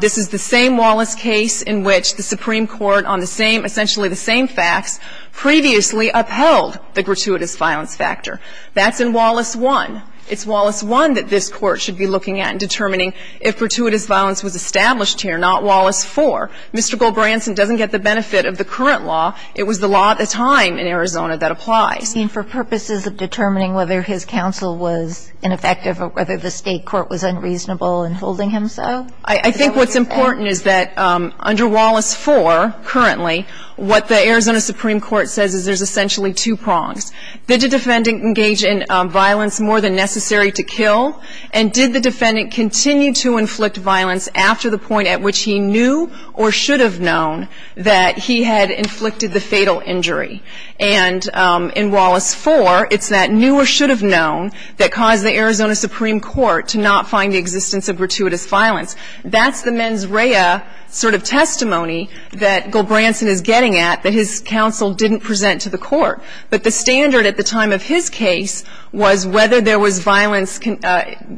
This is the same Wallace case in which the Supreme Court on the same, essentially the same facts, previously upheld the gratuitous violence factor. That's in Wallace 1. It's Wallace 1 that this Court should be looking at in determining if gratuitous violence was established here, not Wallace 4. Mr. Gabrielson doesn't get the benefit of the current law. It was the law at the time in Arizona that applies. And for purposes of determining whether his counsel was ineffective or whether the State court was unreasonable in holding him so? I think what's important is that under Wallace 4 currently, what the Arizona Supreme Court says is there's essentially two prongs. Did the defendant engage in violence more than necessary to kill? And did the defendant continue to inflict violence after the point at which he knew or should have known that he had inflicted the fatal injury? And in Wallace 4, it's that knew or should have known that caused the Arizona Supreme Court to not find the existence of gratuitous violence. That's the mens rea sort of testimony that Golbranson is getting at that his counsel didn't present to the Court. But the standard at the time of his case was whether there was violence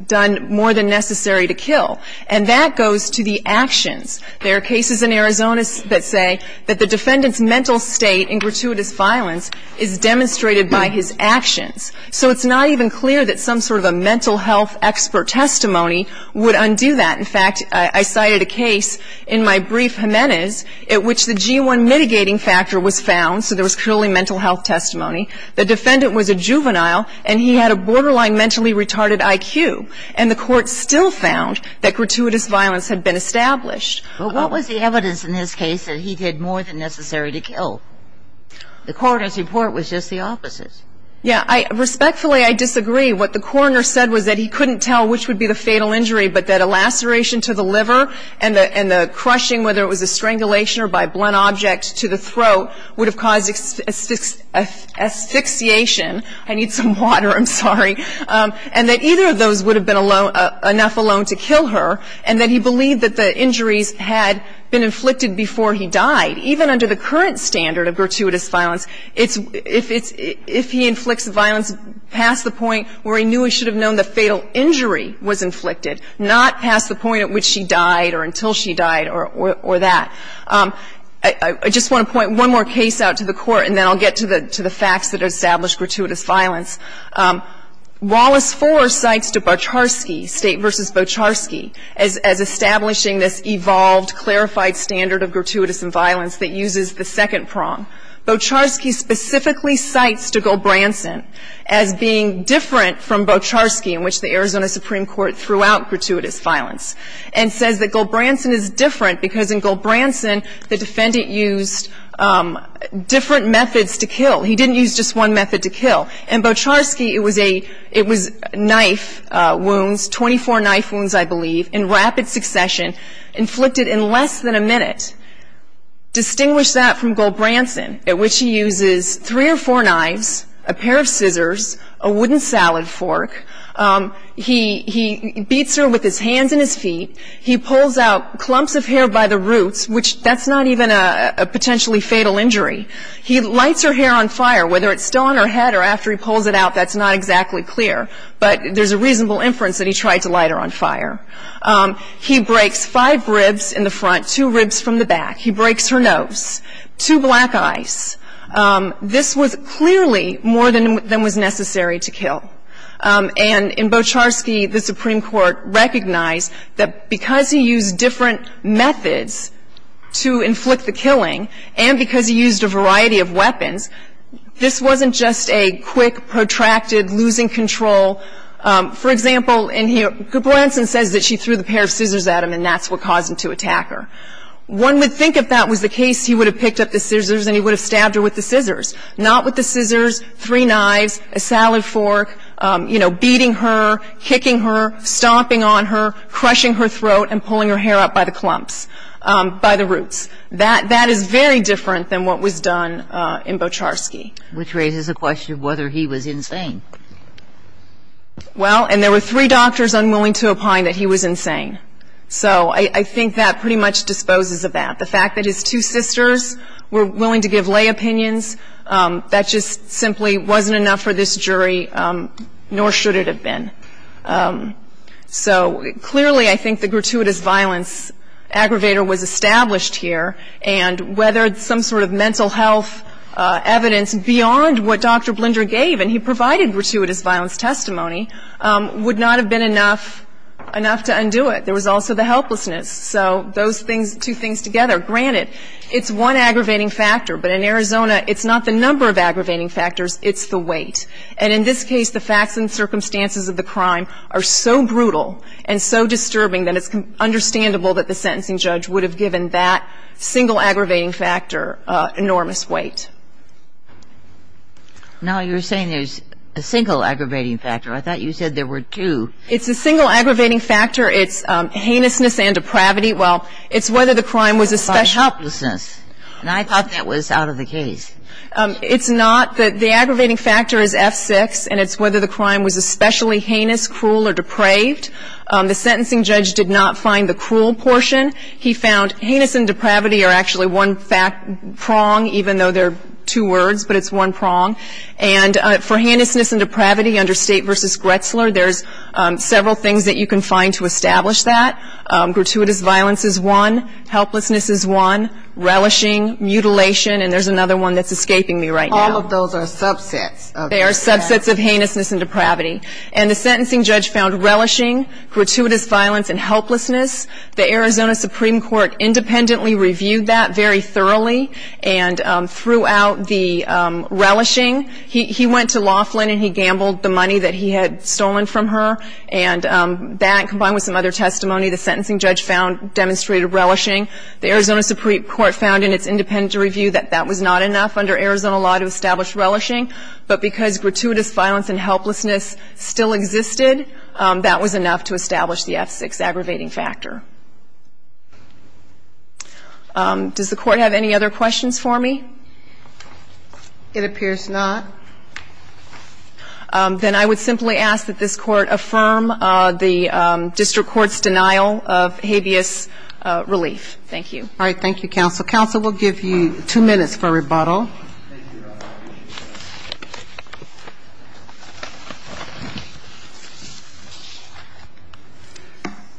done more than necessary to kill. And that goes to the actions. There are cases in Arizona that say that the defendant's mental state in gratuitous violence is demonstrated by his actions. So it's not even clear that some sort of a mental health expert testimony would undo that. In fact, I cited a case in my brief, Jimenez, at which the G1 mitigating factor was found. So there was purely mental health testimony. The defendant was a juvenile, and he had a borderline mentally retarded IQ. And the Court still found that gratuitous violence had been established. But what was the evidence in this case that he did more than necessary to kill? The coroner's report was just the opposite. Yeah. Respectfully, I disagree. What the coroner said was that he couldn't tell which would be the fatal injury, but that a laceration to the liver and the crushing, whether it was a strangulation or by blunt object to the throat, would have caused asphyxiation. I need some water. I'm sorry. And that either of those would have been enough alone to kill her, and that he believed that the injuries had been inflicted before he died. Even under the current standard of gratuitous violence, if he inflicts violence past the point where he knew he should have known the fatal injury was inflicted, not past the point at which she died or until she died or that. I just want to point one more case out to the Court, and then I'll get to the facts that establish gratuitous violence. Wallace 4 cites to Bocharski, State v. Bocharski, as establishing this evolved, clarified standard of gratuitous violence that uses the second prong. Bocharski specifically cites to Gulbranson as being different from Bocharski, in which the Arizona Supreme Court threw out gratuitous violence, and says that Gulbranson is different because in Gulbranson, the defendant used different methods to kill. He didn't use just one method to kill. In Bocharski, it was a, it was knife wounds, 24 knife wounds, I believe, in rapid succession, inflicted in less than a minute. Distinguish that from Gulbranson, at which he uses three or four knives, a pair of scissors, a wooden salad fork. He beats her with his hands and his feet. He pulls out clumps of hair by the roots, which that's not even a potentially fatal injury. He lights her hair on fire. Whether it's stone or head or after he pulls it out, that's not exactly clear. But there's a reasonable inference that he tried to light her on fire. He breaks five ribs in the front, two ribs from the back. He breaks her nose, two black eyes. This was clearly more than was necessary to kill. And in Bocharski, the Supreme Court recognized that because he used different methods to inflict the killing and because he used a variety of weapons, this wasn't just a quick, protracted, losing control. For example, Gulbranson says that she threw the pair of scissors at him, and that's what caused him to attack her. One would think if that was the case, he would have picked up the scissors and he would have stabbed her with the scissors. Not with the scissors, three knives, a salad fork, you know, beating her, kicking her, stomping on her, crushing her throat, and pulling her hair out by the clumps, by the roots. That is very different than what was done in Bocharski. Which raises the question of whether he was insane. Well, and there were three doctors unwilling to opine that he was insane. So I think that pretty much disposes of that. The fact that his two sisters were willing to give lay opinions, that just simply wasn't enough for this jury, nor should it have been. So clearly I think the gratuitous violence aggravator was established here, and whether some sort of mental health evidence beyond what Dr. Blinder gave, and he provided gratuitous violence testimony, would not have been enough to undo it. There was also the helplessness. So those things, two things together. Granted, it's one aggravating factor, but in Arizona, it's not the number of aggravating factors, it's the weight. And in this case, the facts and circumstances of the crime are so brutal and so disturbing that it's understandable that the sentencing judge would have given that single aggravating factor enormous weight. Now, you're saying there's a single aggravating factor. I thought you said there were two. It's a single aggravating factor. It's heinousness and depravity. Well, it's whether the crime was a special. By helplessness. And I thought that was out of the case. It's not. The aggravating factor is F6, and it's whether the crime was especially heinous, cruel, or depraved. The sentencing judge did not find the cruel portion. He found heinous and depravity are actually one prong, even though they're two words, but it's one prong. And for heinousness and depravity under State v. Gretzler, there's several things that you can find to establish that. Gratuitous violence is one. Helplessness is one. Relishing. Mutilation. And there's another one that's escaping me right now. All of those are subsets. They are subsets of heinousness and depravity. And the sentencing judge found relishing, gratuitous violence, and helplessness. The Arizona Supreme Court independently reviewed that very thoroughly. And throughout the relishing, he went to Laughlin and he gambled the money that he had stolen from her. And that, combined with some other testimony, the sentencing judge found demonstrated relishing. The Arizona Supreme Court found in its independent review that that was not enough under Arizona law to establish relishing. But because gratuitous violence and helplessness still existed, that was enough to establish the F-6 aggravating factor. Does the Court have any other questions for me? It appears not. If not, then I would simply ask that this Court affirm the district court's denial of habeas relief. Thank you. All right. Thank you, counsel. Counsel, we'll give you two minutes for rebuttal.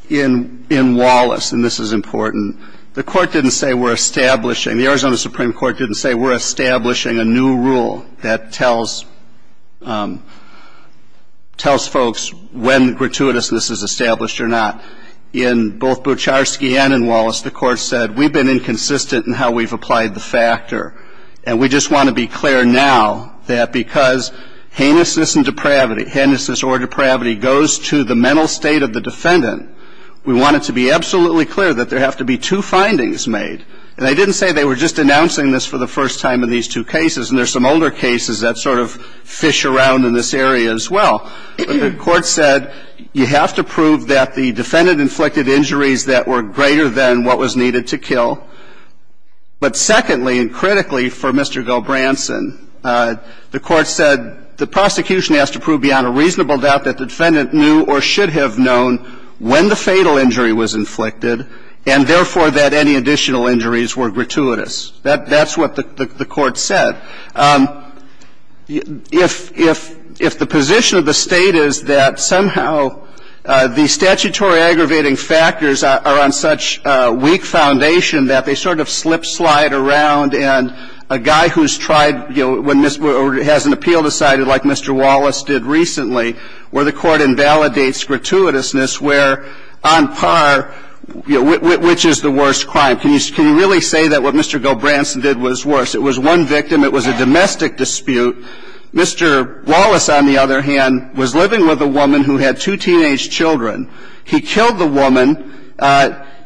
In Wallace, and this is important, the Court didn't say we're establishing the Arizona Supreme Court didn't say we're establishing a new rule that tells folks when gratuitousness is established or not. In both Bucharski and in Wallace, the Court said we've been inconsistent in how we've applied the factor. And we just want to be clear now that because heinousness and depravity, heinousness or depravity, goes to the mental state of the defendant, we want it to be absolutely clear that there have to be two findings made. And I didn't say they were just announcing this for the first time in these two cases, and there are some older cases that sort of fish around in this area as well. The Court said you have to prove that the defendant inflicted injuries that were greater than what was needed to kill. But secondly, and critically for Mr. Gilbranson, the Court said the prosecution has to prove beyond a reasonable doubt that the defendant knew or should have known when the fatal injury was inflicted and, therefore, that any additional injuries were gratuitous. That's what the Court said. If the position of the State is that somehow the statutory aggravating factors are on such weak foundation that they sort of slip-slide around and a guy who's tried, you know, or has an appeal decided like Mr. Gilbranson did recently where the Court invalidates gratuitousness where, on par, which is the worst crime? Can you really say that what Mr. Gilbranson did was worse? It was one victim. It was a domestic dispute. Mr. Wallace, on the other hand, was living with a woman who had two teenage children. He killed the woman.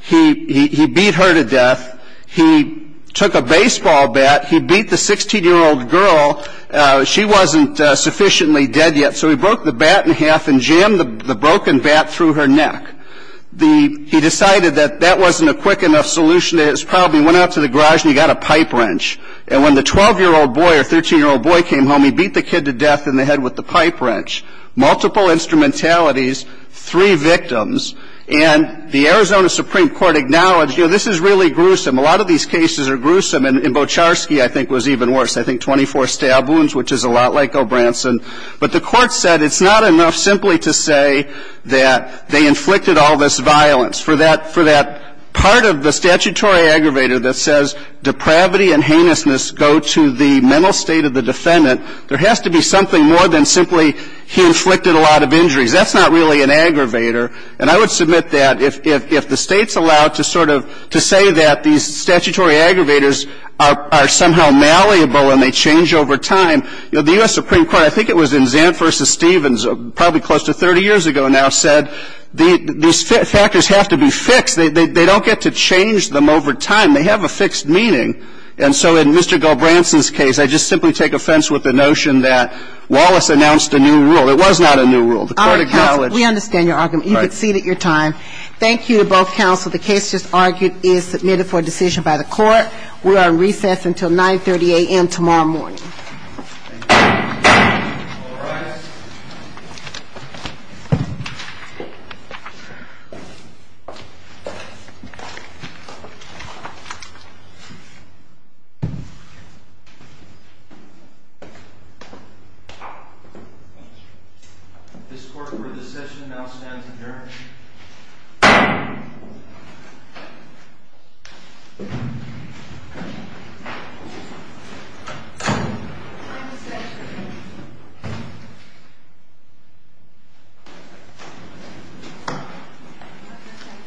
He beat her to death. He took a baseball bat. He beat the 16-year-old girl. She wasn't sufficiently dead yet. So he broke the bat in half and jammed the broken bat through her neck. He decided that that wasn't a quick enough solution. He probably went out to the garage and he got a pipe wrench. And when the 12-year-old boy or 13-year-old boy came home, he beat the kid to death in the head with the pipe wrench. Multiple instrumentalities. Three victims. And the Arizona Supreme Court acknowledged, you know, this is really gruesome. A lot of these cases are gruesome. And Bocharski, I think, was even worse. I think 24 stab wounds, which is a lot like Gilbranson. But the Court said it's not enough simply to say that they inflicted all this violence. For that part of the statutory aggravator that says depravity and heinousness go to the mental state of the defendant, there has to be something more than simply he inflicted a lot of injuries. That's not really an aggravator. And I would submit that if the States allowed to sort of say that these statutory aggravators are somehow malleable and they change over time, you know, the U.S. Supreme Court, I think it was in Zant v. Stevens, probably close to 30 years ago now, said these factors have to be fixed. They don't get to change them over time. They have a fixed meaning. And so in Mr. Gilbranson's case, I just simply take offense with the notion that Wallace announced a new rule. It was not a new rule. The Court acknowledged. All right, counsel. We understand your argument. You've exceeded your time. Thank you to both counsel. The case just argued is submitted for decision by the Court. We are in recess until 9.30 a.m. tomorrow morning. Thank you. All rise. This court for the session now stands adjourned. Thank you.